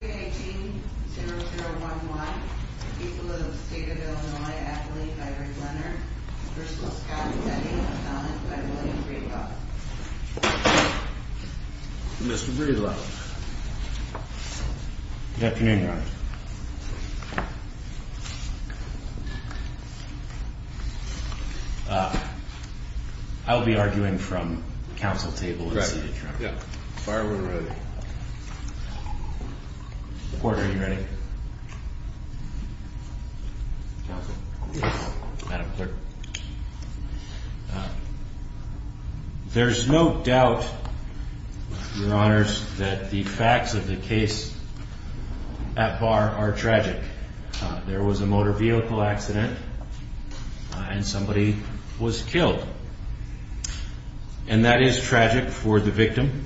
18-001-Y, people of the state of Illinois, athlete by Rick Leonard, first-class captain by William Breedlove. Mr. Breedlove. Good afternoon, Your Honor. I will be arguing from counsel table. Fire when ready. Court, are you ready? There's no doubt, Your Honors, that the facts of the case at bar are tragic. There was a motor vehicle accident and somebody was killed. And that is tragic for the victim,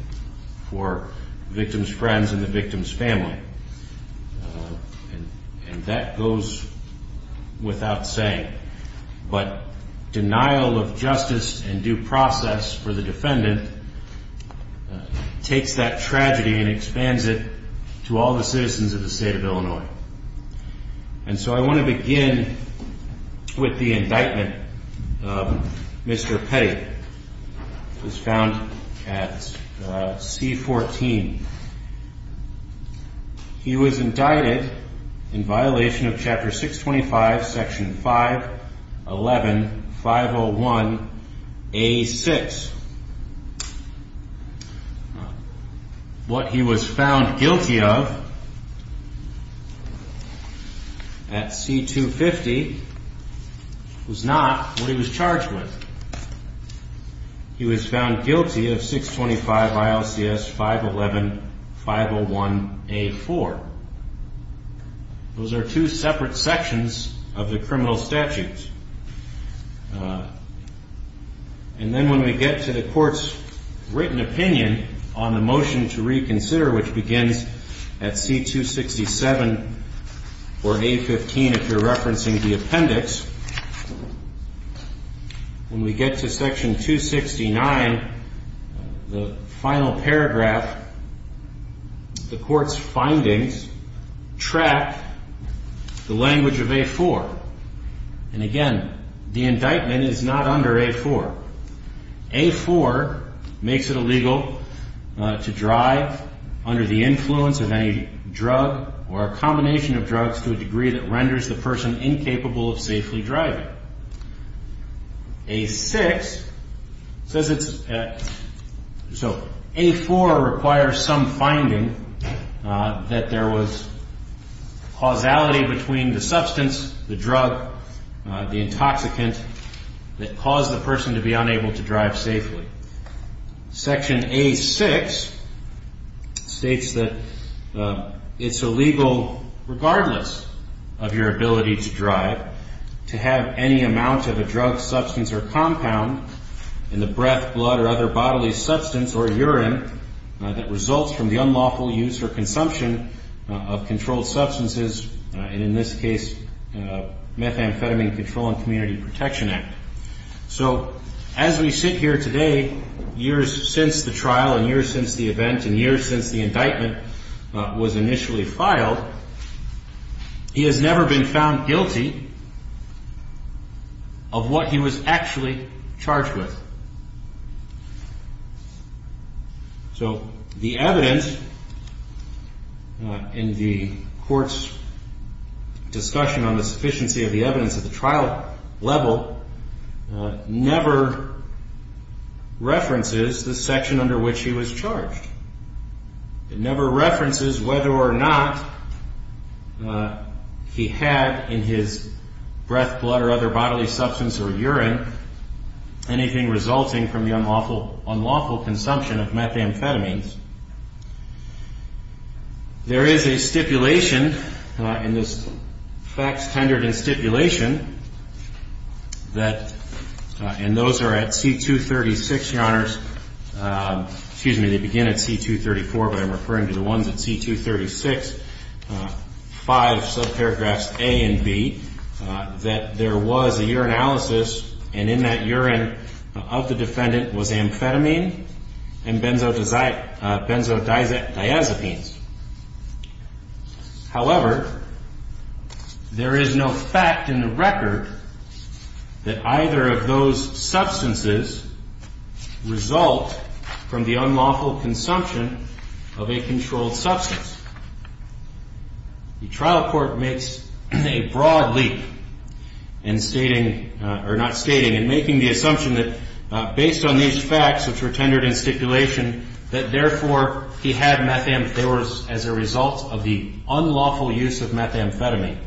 for victim's friends and the victim's family. And that goes without saying. But denial of justice and due process for the defendant takes that tragedy and expands it to all the citizens of the state of Illinois. And so I want to begin with the indictment of Mr. Petty. Mr. Petty was found at C-14. He was indicted in violation of Chapter 625, Section 511-501-A-6. What he was found guilty of at C-250 was not what he was charged with. He was found guilty of 625 ILCS 511-501-A-4. Those are two separate sections of the criminal statutes. And then when we get to the court's written opinion on the motion to reconsider, which begins at C-267 or A-15, if you're referencing the appendix, when we get to Section 269, the final paragraph, the court's findings track the language of A-4. And again, the indictment is not under A-4. A-4 makes it illegal to drive under the influence of any drug or a combination of drugs to a degree that renders the person incapable of safely driving. A-6 says it's, so A-4 requires some finding that there was causality between the substance, the drug, the intoxicant that caused the person to be unable to drive safely. Section A-6 states that it's illegal, regardless of your ability to drive, to have any amount of a drug, substance, or compound in the breath, blood, or other bodily substance or urine that results from the unlawful use or consumption of controlled substances, and in this case, Methamphetamine Control and Community Protection Act. So as we sit here today, years since the trial, and years since the event, and years since the indictment was initially filed, he has never been found guilty of what he was actually charged with. So the evidence in the court's discussion on the sufficiency of the evidence at the trial level never references the section under which he was charged. It never references whether or not he had in his breath, blood, or other bodily substance or urine anything resulting from unlawful consumption of methamphetamines. There is a stipulation in this fact-tendered stipulation that, and those are at C-236, Your Honors, excuse me, they begin at C-234, but I'm referring to the ones at C-236, five sub-paragraphs A and B, that there was a urinalysis, and in that urine of the defendant was amphetamine and benzodiazepines. However, there is no fact in the record that either of those substances result from the unlawful consumption of a controlled substance. The trial court makes a broad leap in stating, or not stating, in making the assumption that based on these facts, which were tendered in stipulation, that therefore he had methamphetamine, as a result of the unlawful use of methamphetamine.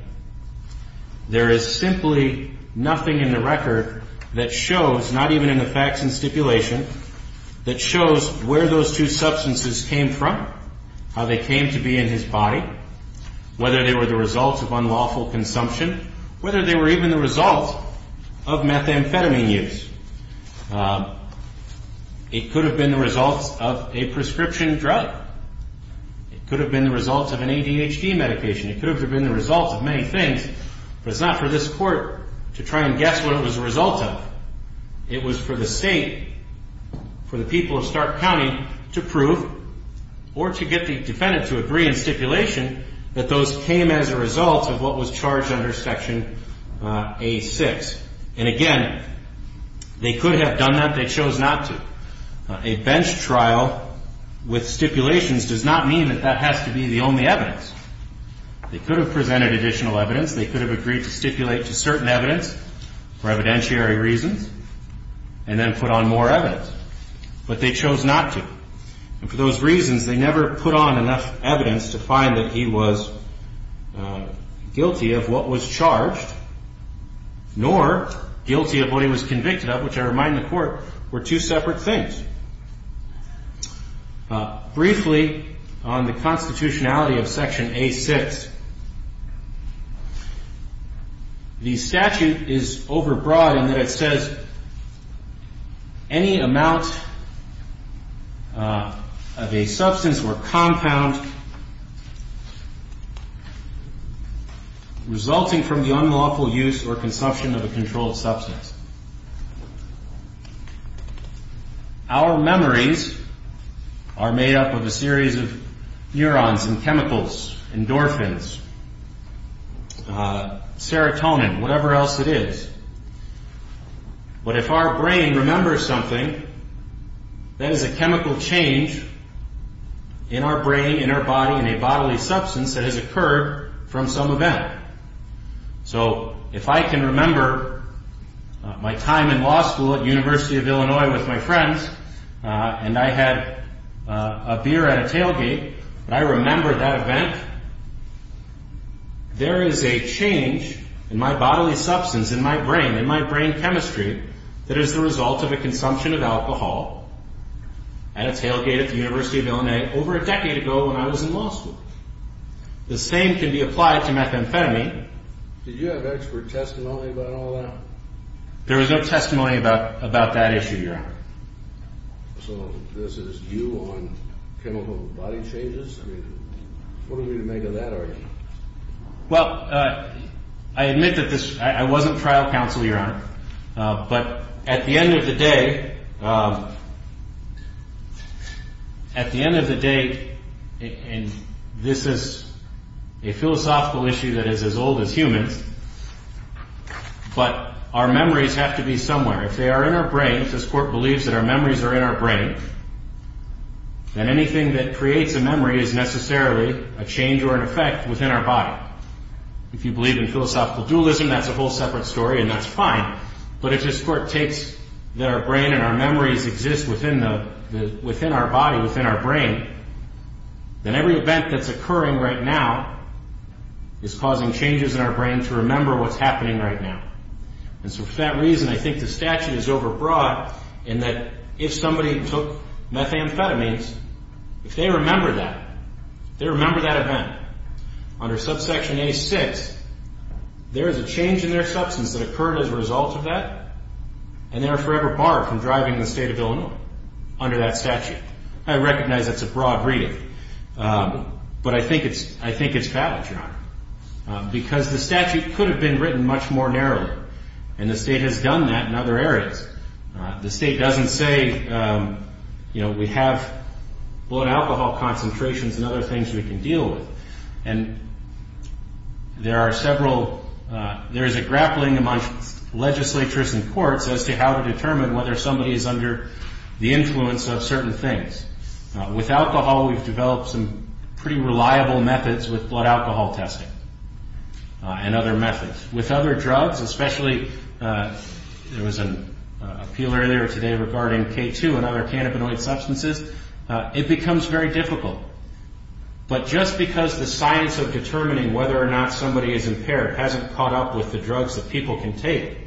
There is simply nothing in the record that shows, not even in the facts and stipulation, that shows where those two substances came from, how they came to be in his body, whether they were the result of unlawful consumption, whether they were even the result of methamphetamine use. It could have been the result of a prescription drug. It could have been the result of an ADHD medication. It could have been the result of many things. But it's not for this court to try and guess what it was the result of. It was for the state, for the people of Stark County, to prove, or to get the defendant to agree in stipulation, that those came as a result of what was charged under Section A-6. And again, they could have done that. They chose not to. A bench trial with stipulations does not mean that that has to be the only evidence. They could have presented additional evidence. They could have agreed to stipulate to certain evidence, for evidentiary reasons, and then put on more evidence. But they chose not to. And for those reasons, they never put on enough evidence to find that he was guilty of what was charged, nor guilty of what he was convicted of, which I remind the court were two separate things. Briefly, on the constitutionality of Section A-6, the statute is overbroad in that it says, any amount of a substance or compound resulting from the unlawful use or consumption of a controlled substance. Our memories are made up of a series of neurons and chemicals, endorphins, serotonin, whatever else it is. But if our brain remembers something, that is a chemical change in our brain, in our body, in a bodily substance that has occurred from some event. So if I can remember my time in law school at University of Illinois with my friends, and I had a beer at a tailgate, and I remember that event, there is a change in my bodily substance, in my brain, in my brain chemistry, that is the result of a consumption of alcohol at a tailgate at the University of Illinois over a decade ago when I was in law school. The same can be applied to methamphetamine. Did you have expert testimony about all that? There was no testimony about that issue, Your Honor. So this is you on chemical body changes? What do we make of that argument? But at the end of the day, and this is a philosophical issue that is as old as humans, but our memories have to be somewhere. If they are in our brains, this Court believes that our memories are in our brain, then anything that creates a memory is necessarily a change or an effect within our body. If you believe in philosophical dualism, that's a whole separate story, and that's fine. But if this Court takes that our brain and our memories exist within our body, within our brain, then every event that's occurring right now is causing changes in our brain to remember what's happening right now. And so for that reason, I think the statute is overbroad in that if somebody took methamphetamines, if they remember that, they remember that event. Under subsection A6, there is a change in their substance that occurred as a result of that, and they are forever barred from driving the state of Illinois under that statute. I recognize that's a broad reading, but I think it's valid, Your Honor, because the statute could have been written much more narrowly, and the state has done that in other areas. The state doesn't say, you know, we have blood alcohol concentrations and other things we can deal with. And there are several, there is a grappling among legislatures and courts as to how to determine whether somebody is under the influence of certain things. With alcohol, we've developed some pretty reliable methods with blood alcohol testing and other methods. With other drugs, especially, there was an appeal earlier today regarding K2 and other cannabinoid substances, it becomes very difficult. But just because the science of determining whether or not somebody is impaired hasn't caught up with the drugs that people can take,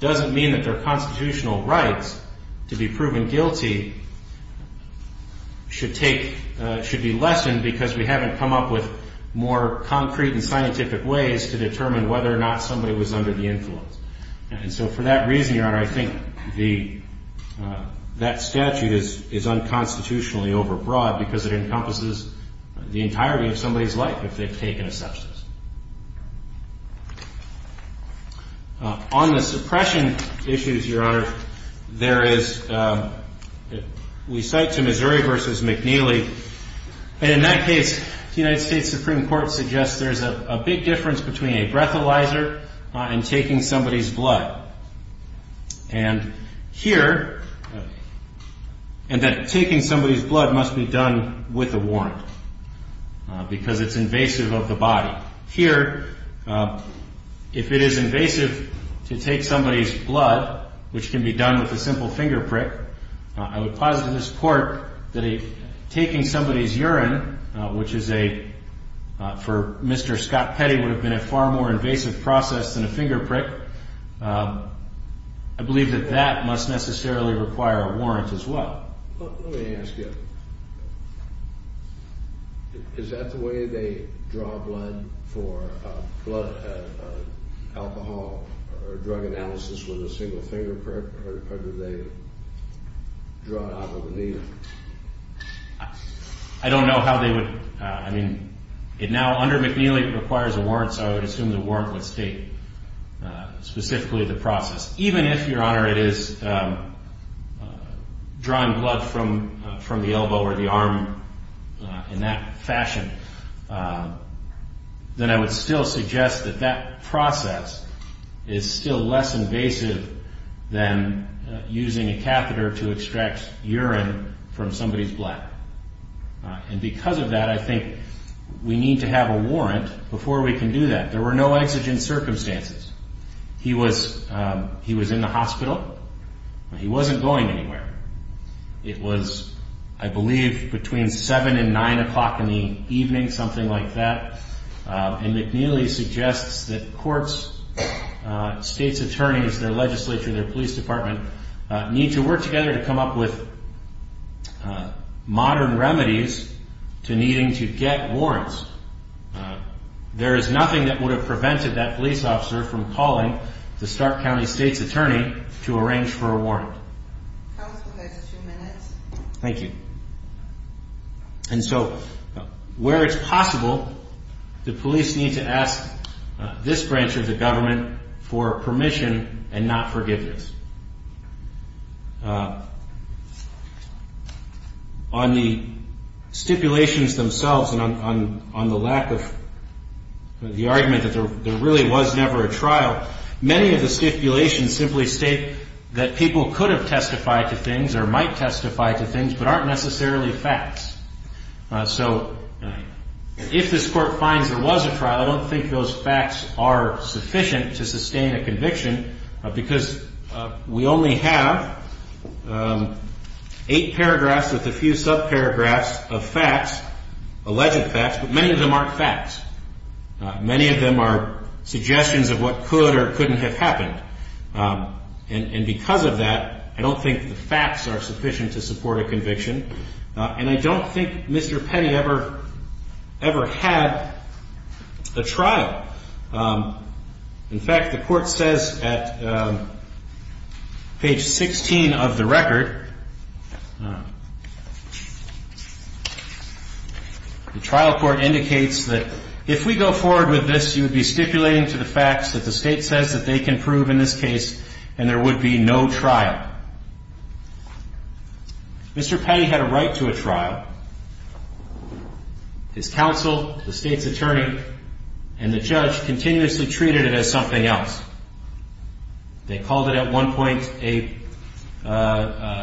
doesn't mean that their constitutional rights to be proven guilty should take, should be lessened because we haven't come up with more concrete and scientific ways to determine whether or not somebody was under the influence. And so for that reason, Your Honor, I think that statute is unconstitutionally overbroad because it encompasses the entirety of somebody's life if they've taken a substance. On the suppression issues, Your Honor, there is, we cite to Missouri versus McNeely. And in that case, the United States Supreme Court suggests there's a big difference between a breathalyzer and taking somebody's blood. And here, and that taking somebody's blood must be done with a warrant because it's invasive of the body. Here, if it is invasive to take somebody's blood, which can be done with a simple finger prick, I would posit to this court that taking somebody's urine, which is a, for Mr. Scott Petty, would have been a far more invasive process than a finger prick. I believe that that must necessarily require a warrant as well. Well, let me ask you, is that the way they draw blood for blood alcohol or drug analysis with a single finger prick or do they draw it out with a needle? I don't know how they would, I mean, it now under McNeely requires a warrant, so I would assume the warrant would state specifically the process. Even if, Your Honor, it is drawing blood from the elbow or the arm in that fashion, then I would still suggest that that process is still less invasive than using a catheter to extract urine from somebody's blood. And because of that, I think we need to have a warrant. Before we can do that, there were no exigent circumstances. He was in the hospital. He wasn't going anywhere. It was, I believe, between seven and nine o'clock in the evening, something like that. And McNeely suggests that courts, states' attorneys, their legislature, their police department, need to work together to come up with modern remedies to needing to get warrants. There is nothing that would have prevented that police officer from calling the Stark County State's attorney to arrange for a warrant. Counsel, you have two minutes. Thank you. And so where it's possible, the police need to ask this branch of the government for permission and not forgiveness. On the stipulations themselves, and on the lack of the argument that there really was never a trial, many of the stipulations simply state that people could have testified to things or might testify to things, but aren't necessarily facts. So if this court finds there was a trial, I don't think those facts are sufficient to sustain a conviction, because there's no evidence We only have eight paragraphs with a few subparagraphs of facts, alleged facts, but many of them aren't facts. Many of them are suggestions of what could or couldn't have happened. And because of that, I don't think the facts are sufficient to support a conviction, and I don't think Mr. Petty ever had a trial. In fact, the court says at page 16 of the record, the trial court indicates that if we go forward with this, you would be stipulating to the facts that the state says that they can prove in this case, and there would be no trial. Mr. Petty had a right to a trial. His counsel, the state's attorney, and the judge continuously treated it as something else. They called it at one point a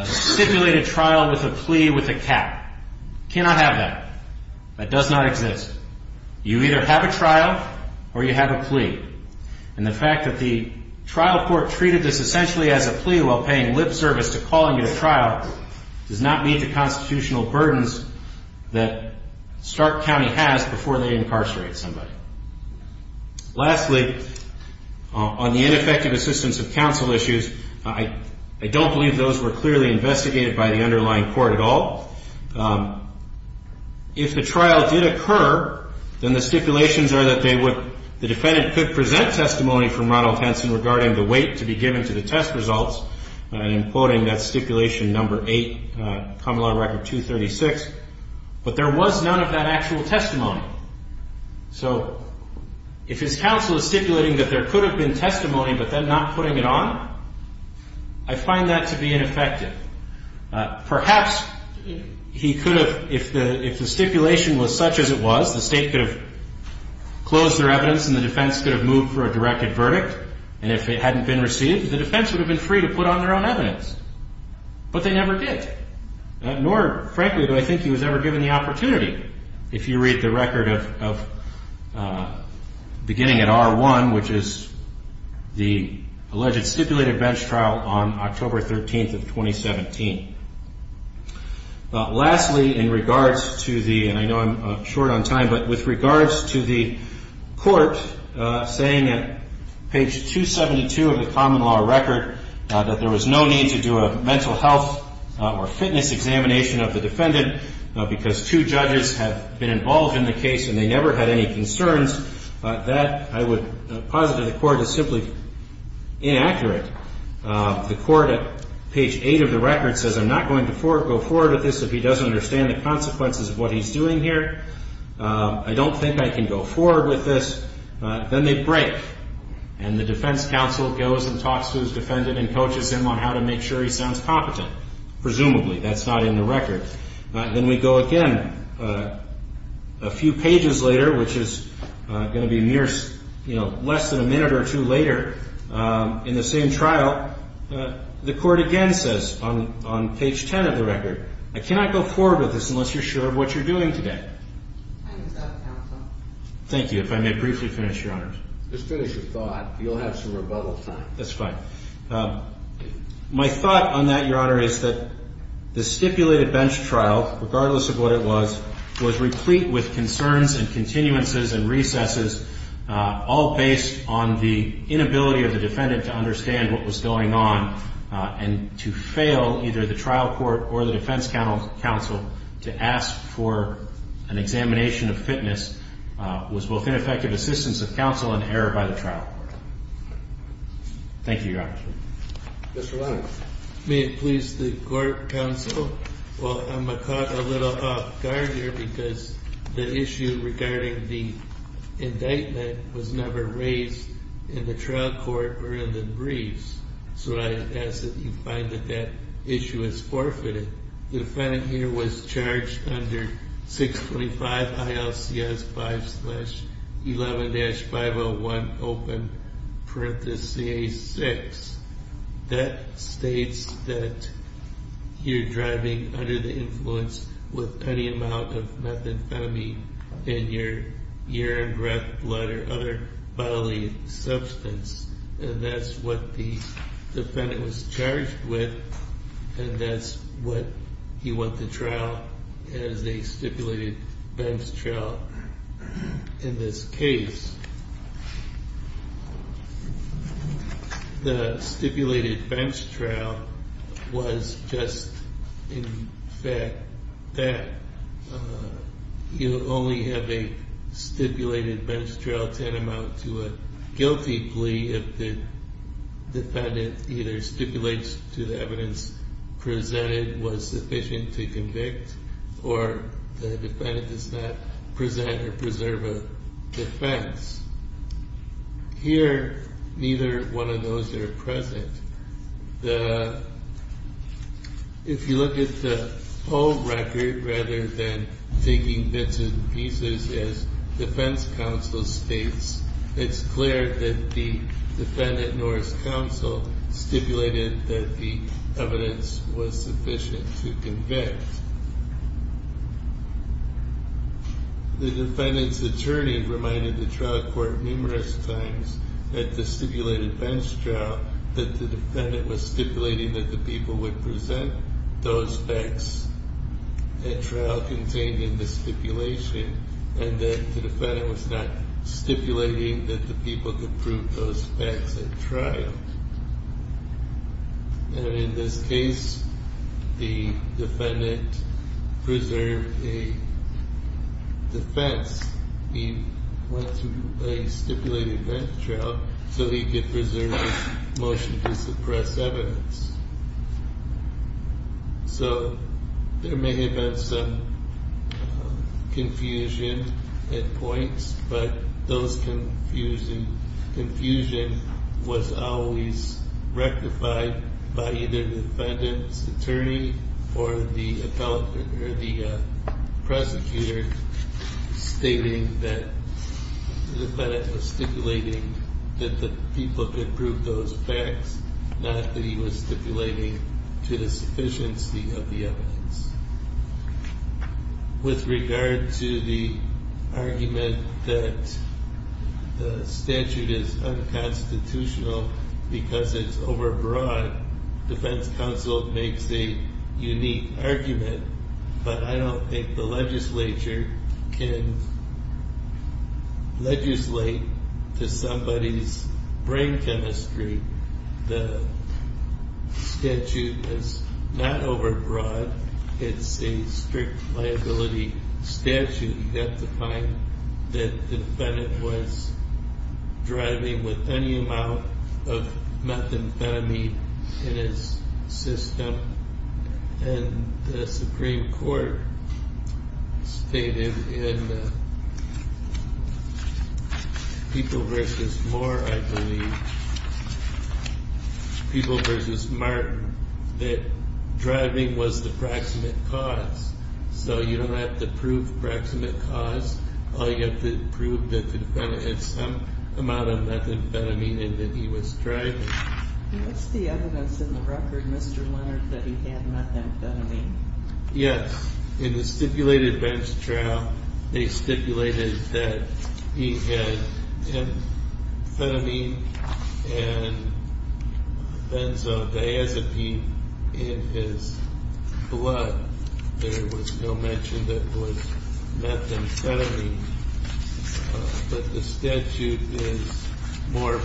stipulated trial with a plea with a cap. Cannot have that. That does not exist. You either have a trial or you have a plea. And the fact that the trial court treated this essentially as a plea while paying lip service to calling it a trial does not meet the that Stark County has before they incarcerate somebody. Lastly, on the ineffective assistance of counsel issues, I don't believe those were clearly investigated by the underlying court at all. If the trial did occur, then the stipulations are that the defendant could present testimony from Ronald Henson regarding the weight to be given to the test results, and I'm quoting that stipulation number 8, Common Law Record 236. But there was none of that actual testimony. So if his counsel is stipulating that there could have been testimony, but then not putting it on, I find that to be ineffective. Perhaps he could have, if the stipulation was such as it was, the state could have closed their evidence and the defense could have moved for a directed verdict, and if it hadn't been received, the defense would have been free to put on their own evidence. But they never did. Nor, frankly, do I think he was ever given the opportunity, if you read the record of beginning at R1, which is the alleged stipulated bench trial on October 13th of 2017. Lastly, in regards to the, and I know I'm short on time, but with regards to the court saying at page 272 of the Common Law Record that there was no need to do a mental health or fitness examination of the defendant because two judges have been involved in the case and they never had any concerns, that I would posit that the court is simply inaccurate. The court at page 8 of the record says, I'm not going to go forward with this if he doesn't understand the consequences of what he's doing here. I don't think I can go forward with this. Then they break, and the defense counsel goes and talks to his defendant and coaches him on how to make sure he sounds competent, presumably. That's not in the record. Then we go again a few pages later, which is going to be less than a minute or two later in the same trial. The court again says on page 10 of the record, I cannot go forward with this unless you're sure of what you're doing today. Thank you. If I may briefly finish, Your Honors. Just finish your thought. You'll have some rebuttal time. That's fine. My thought on that, Your Honor, is that the stipulated bench trial, regardless of what it was, was replete with concerns and continuances and recesses, all based on the inability of the defendant to understand what was going on, and to fail either the trial court or the defense counsel to ask for an examination of fitness was both ineffective assistance of counsel and error by the trial court. Thank you, Your Honor. Mr. Lennox. May it please the court counsel, while I'm caught a little off guard here because the issue regarding the indictment was never raised in the trial court or in the briefs. So I ask that you find that that issue is forfeited. The defendant here was charged under 625 ILCS 5 slash 11-501 open parenthesis CA 6. That states that you're driving under the influence with any amount of methamphetamine in your urine, breath, blood, or other bodily substance. And that's what the defendant was charged with. And that's what he went to trial as a stipulated bench trial in this case. The stipulated bench trial was just in fact that you only have a stipulated bench trial tantamount to a guilty plea if the defendant either stipulates to evidence presented was sufficient to convict or the defendant does not present or preserve a defense. Here, neither one of those are present. If you look at the whole record rather than taking bits and pieces as defense counsel states, it's clear that the defendant nor his counsel stipulated that the evidence was sufficient to convict. The defendant's attorney reminded the trial court numerous times at the stipulated bench trial that the defendant was stipulating that the people would present those facts at trial contained in the stipulation and that the defendant was not stipulating that the people could prove those facts at trial. And in this case, the defendant preserved a defense. He went through a stipulated bench trial so he could preserve his motion to suppress evidence. So there may have been some confusion at points, but those confusion was always rectified by either the defendant's attorney or the prosecutor stating that the defendant was stipulating that the people could prove those facts, not that he was stipulating to the sufficiency of the evidence. With regard to the argument that the statute is unconstitutional because it's overbroad, defense counsel makes a unique argument, but I don't think the legislature can legislate to somebody's brain chemistry. The statute is not overbroad. It's a strict liability statute. You have to find that the defendant was driving with any amount of methamphetamine in his system, and the Supreme Court stated in People v. Moore, I believe, People v. Martin, that driving was the proximate cause. So you don't have to prove proximate cause, all you have to prove that the defendant had some amount of methamphetamine in that he was driving. What's the evidence in the record, Mr. Leonard, that he had methamphetamine? Yes. In the stipulated bench trial, they stipulated that he had methamphetamine and benzodiazepine in his blood. There was no mention that it was methamphetamine, but the statute is more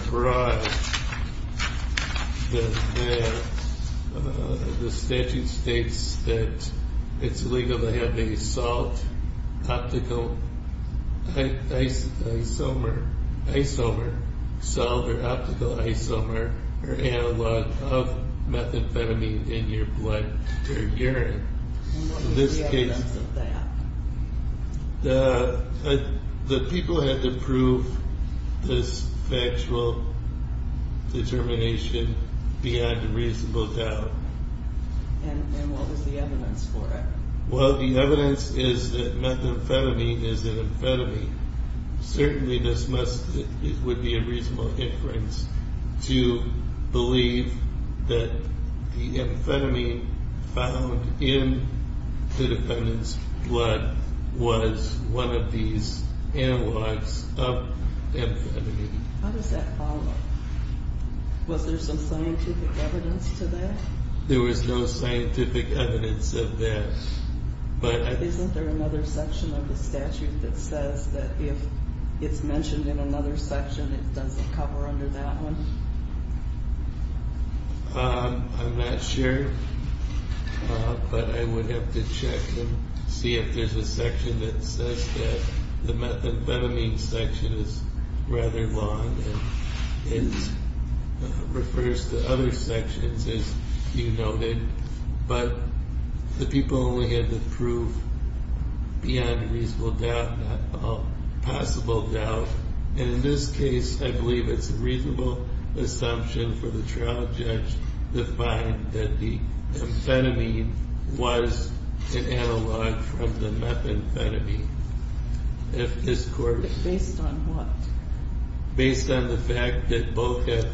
that it's legal to have a salt, optical isomer, salt or optical isomer or analog of methamphetamine in your blood or urine. What was the evidence of that? The people had to prove this factual determination beyond a reasonable doubt. And what was the evidence for it? Well, the evidence is that methamphetamine is an amphetamine. Certainly, this would be a reasonable inference to believe that the amphetamine found in the defendant's blood was one of these analogs of amphetamine. How does that follow? Was there some scientific evidence to that? There was no scientific evidence of that. Isn't there another section of the statute that says that if it's mentioned in another section, it doesn't cover under that one? I'm not sure, but I would have to check and see if there's a section that says that the methamphetamine section is rather long and it refers to other sections as you noted, but the people only had to prove beyond a reasonable doubt, a possible doubt, and in this case, I believe it's a reasonable assumption for the trial judge to find that the amphetamine was an analog from the methamphetamine, if this court... Based on what? Based on the fact that both have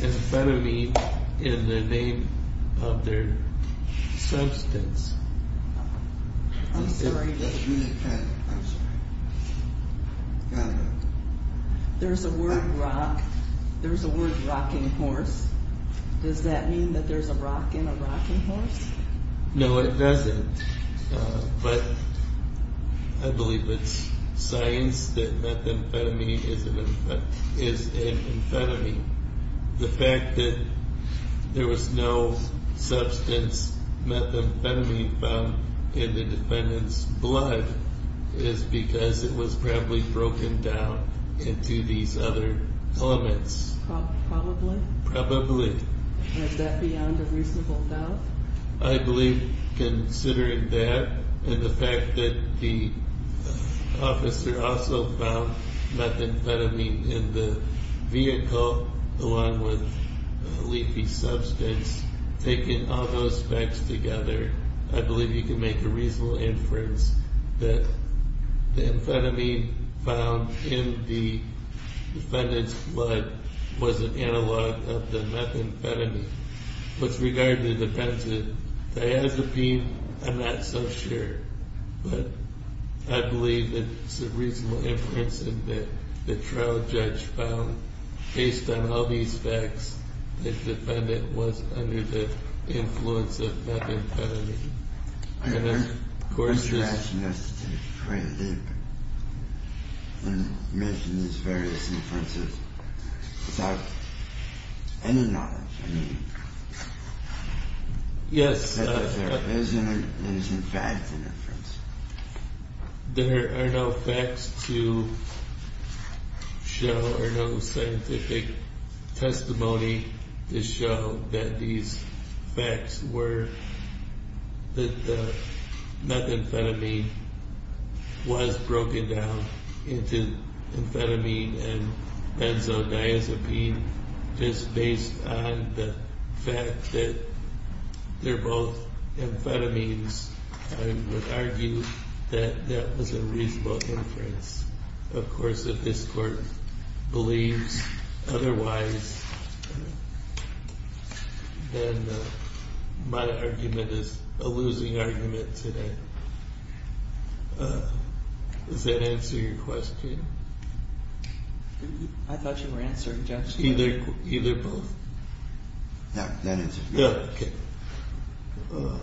amphetamine in the name of their substance. I'm sorry. There's a word rock, there's a word rocking horse. Does that mean that there's a rock in a rocking horse? No, it doesn't, but I believe it's science that methamphetamine is an amphetamine. The fact that there was no substance methamphetamine found in the defendant's blood is because it was probably broken down into these other elements. Probably? Probably. Is that beyond a reasonable doubt? I believe considering that and the fact that the officer also found methamphetamine in the vehicle along with a leafy substance, taking all those facts together, I believe you can make a reasonable inference that the amphetamine found in the methamphetamine was regarding the defendant's diazepine. I'm not so sure, but I believe it's a reasonable inference that the trial judge found, based on all these facts, that the defendant was under the influence of methamphetamine. I heard you asking us to dig quite deep and mention these various inferences without any knowledge. I mean, is there in fact an inference? There are no facts to show or no scientific testimony to show that these facts were, that the methamphetamine was broken down into amphetamine and benzodiazepine, just based on the fact that they're both amphetamines. I would argue that that was a reasonable inference. Of course, if this court believes otherwise, then my argument is a losing argument today. Does that answer your question? I thought you were answering, Judge. Either, either, both. Yeah, that answers it. Yeah, okay. Okay.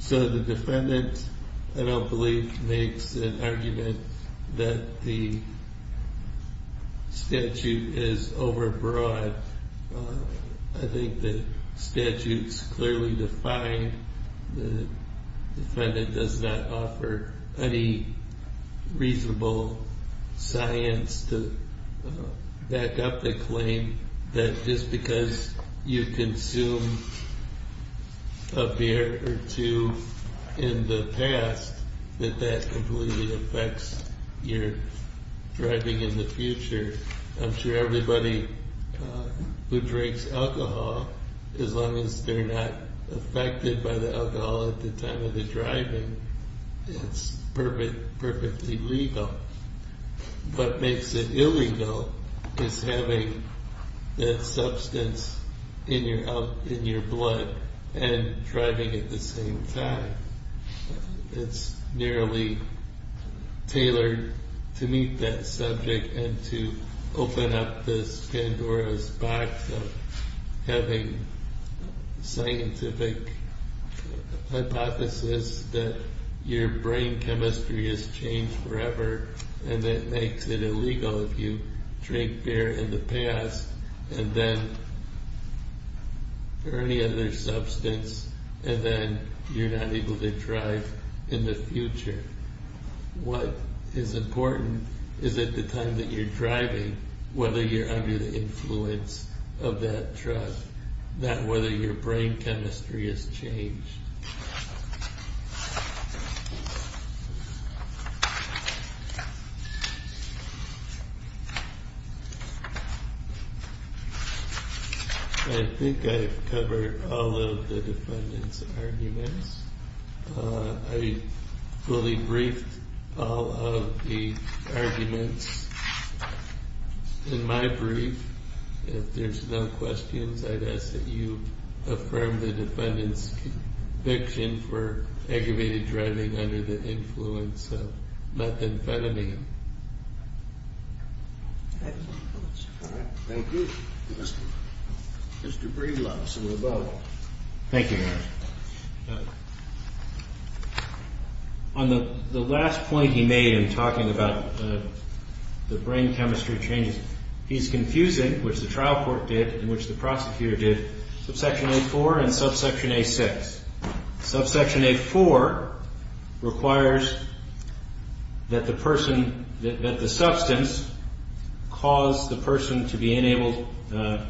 So the defendant, I don't believe, makes an argument that the statute is overbroad. I think the statute's clearly defined. The defendant does not offer any reasonable science to back up the claim that just because you consume a beer or two in the past, that that completely affects your driving in the future. I'm sure everybody who drinks alcohol, as long as they're not affected by the alcohol at the time of the driving, it's perfectly legal. What makes it illegal is having that substance in your blood and driving at the same time. It's nearly tailored to meet that subject and to open up this Pandora's box of having scientific hypothesis that your brain chemistry has changed forever, and that makes it illegal if you drink beer in the past and then, or any other substance, and then you're not able to drive in the future. What is important is at the time that you're driving, whether you're under the influence of that drug, not whether your brain chemistry has changed. I think I've covered all of the defendant's arguments. I fully briefed all of the arguments in my brief. If there's no questions, I'd ask that you affirm the defendant's conviction for aggravated driving under the influence of methamphetamine. Thank you. Mr. Breedlove, so we're both. Thank you, Your Honor. On the last point he made in talking about the brain chemistry changes, he's confusing, which the trial court did and which the prosecutor did, subsection A4 and subsection A6. Subsection A4 requires that the substance cause the person to be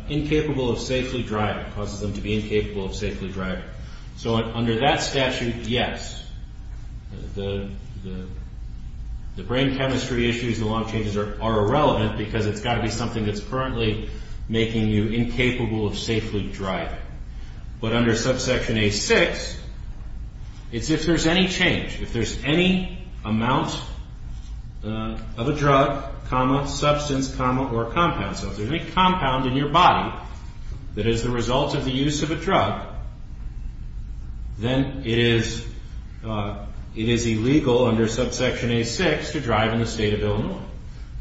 incapable of safely driving. Causes them to be incapable of safely driving. So under that statute, yes, the brain chemistry issues, the long changes are irrelevant because it's got to be something that's currently making you incapable of safely driving. But under subsection A6, it's if there's any change, if there's any amount of a drug, substance, or compound. So if there's any compound in your body that is the result of the use of a drug, then it is illegal under subsection A6 to drive in the state of Illinois.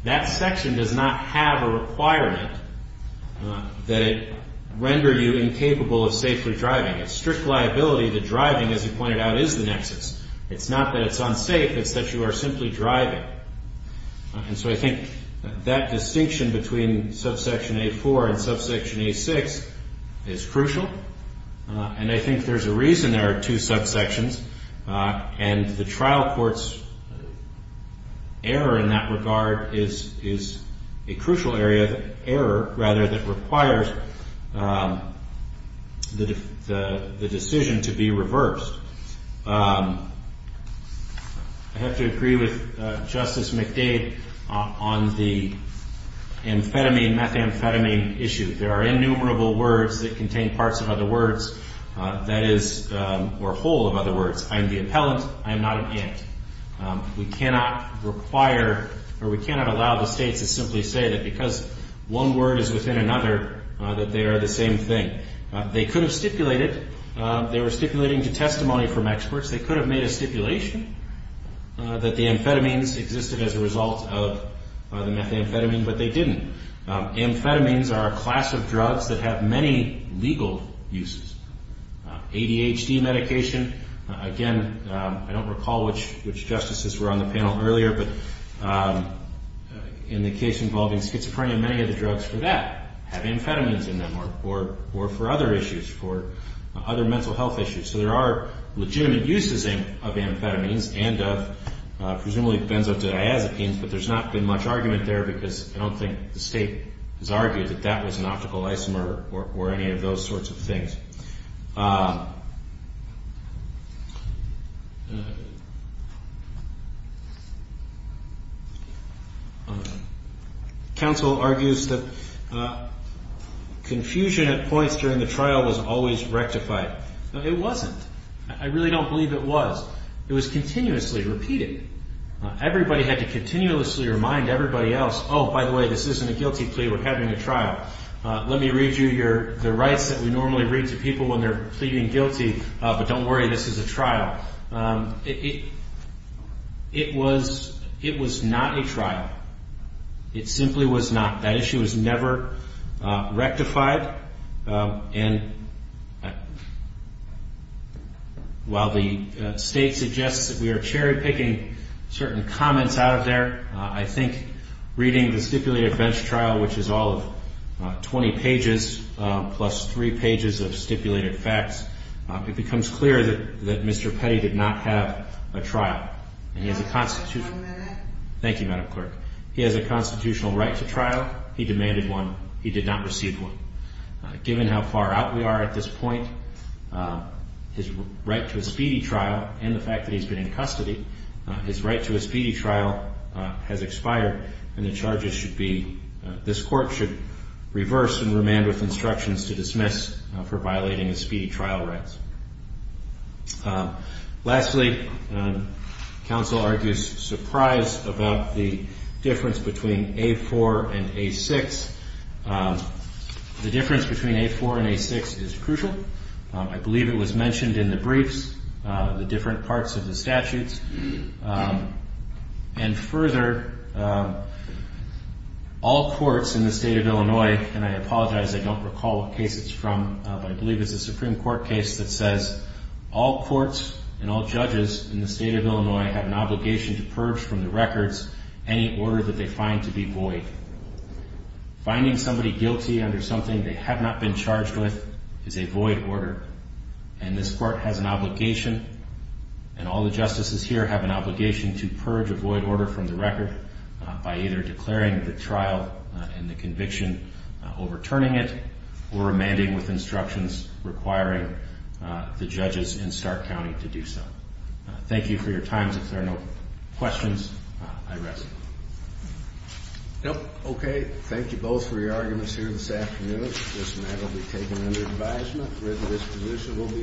That section does not have a requirement that it render you incapable of safely driving. A strict liability to driving, as he pointed out, is the nexus. It's not that it's unsafe. It's that you are simply driving. And so I think that distinction between subsection A4 and subsection A6 is crucial. And I think there's a reason there are two subsections. And the trial court's error in that regard is a crucial area, error, rather, that requires the decision to be reversed. I have to agree with Justice McDade on the amphetamine, methamphetamine issue. There are innumerable words that contain parts of other words that is, or a whole of other words. I am the appellant. I am not an ant. We cannot require or we cannot allow the states to simply say that because one word is within another, that they are the same thing. They could have stipulated. They were stipulating to testimony from experts. They could have made a stipulation that the amphetamines existed as a result of the methamphetamine, but they didn't. Amphetamines are a class of drugs that have many legal uses. ADHD medication, again, I don't recall which justices were on the panel earlier, but in the case involving schizophrenia, many of the drugs for that have amphetamines in them or for other issues, for other mental health issues. So there are legitimate uses of amphetamines and of presumably benzodiazepines, but there's not been much argument there because I don't think the state has argued that that was an optical isomer or any of those sorts of things. Counsel argues that confusion at points during the trial was always rectified. It wasn't. I really don't believe it was. It was continuously repeated. Everybody had to continuously remind everybody else, oh, by the way, this isn't a guilty plea. We're having a trial. Let me read you the rights that we normally read to people when they're pleading guilty, but don't worry, this is a trial. It was not a trial. It simply was not. That issue was never rectified. And while the state suggests that we are cherry picking certain comments out of there, I think reading the stipulated bench trial, which is all of 20 pages plus three pages of stipulated facts, it becomes clear that Mr. Petty did not have a trial. Thank you, Madam Clerk. He has a constitutional right to trial. He demanded one. He did not receive one. Given how far out we are at this point, his right to a speedy trial and the fact that he's been in custody, his right to a speedy trial has expired and the charges should be, this court should reverse and remand with instructions to dismiss for violating the speedy trial rights. Lastly, counsel argues surprise about the difference between A4 and A6. The difference between A4 and A6 is crucial. I believe it was mentioned in the briefs. The different parts of the statutes and further, all courts in the state of Illinois, and I apologize, I don't recall what case it's from, but I believe it's a Supreme Court case that says all courts and all judges in the state of Illinois have an obligation to purge from the records any order that they find to be void. Finding somebody guilty under something they have not been charged with is a void order. And this court has an obligation and all the justices here have an obligation to purge a void order from the record by either declaring the trial and the conviction, overturning it, or remanding with instructions requiring the judges in Stark County to do so. Thank you for your time. If there are no questions, I rest. Nope. Okay. Thank you both for your arguments here this afternoon. This matter will be taken under advisement whether this position will be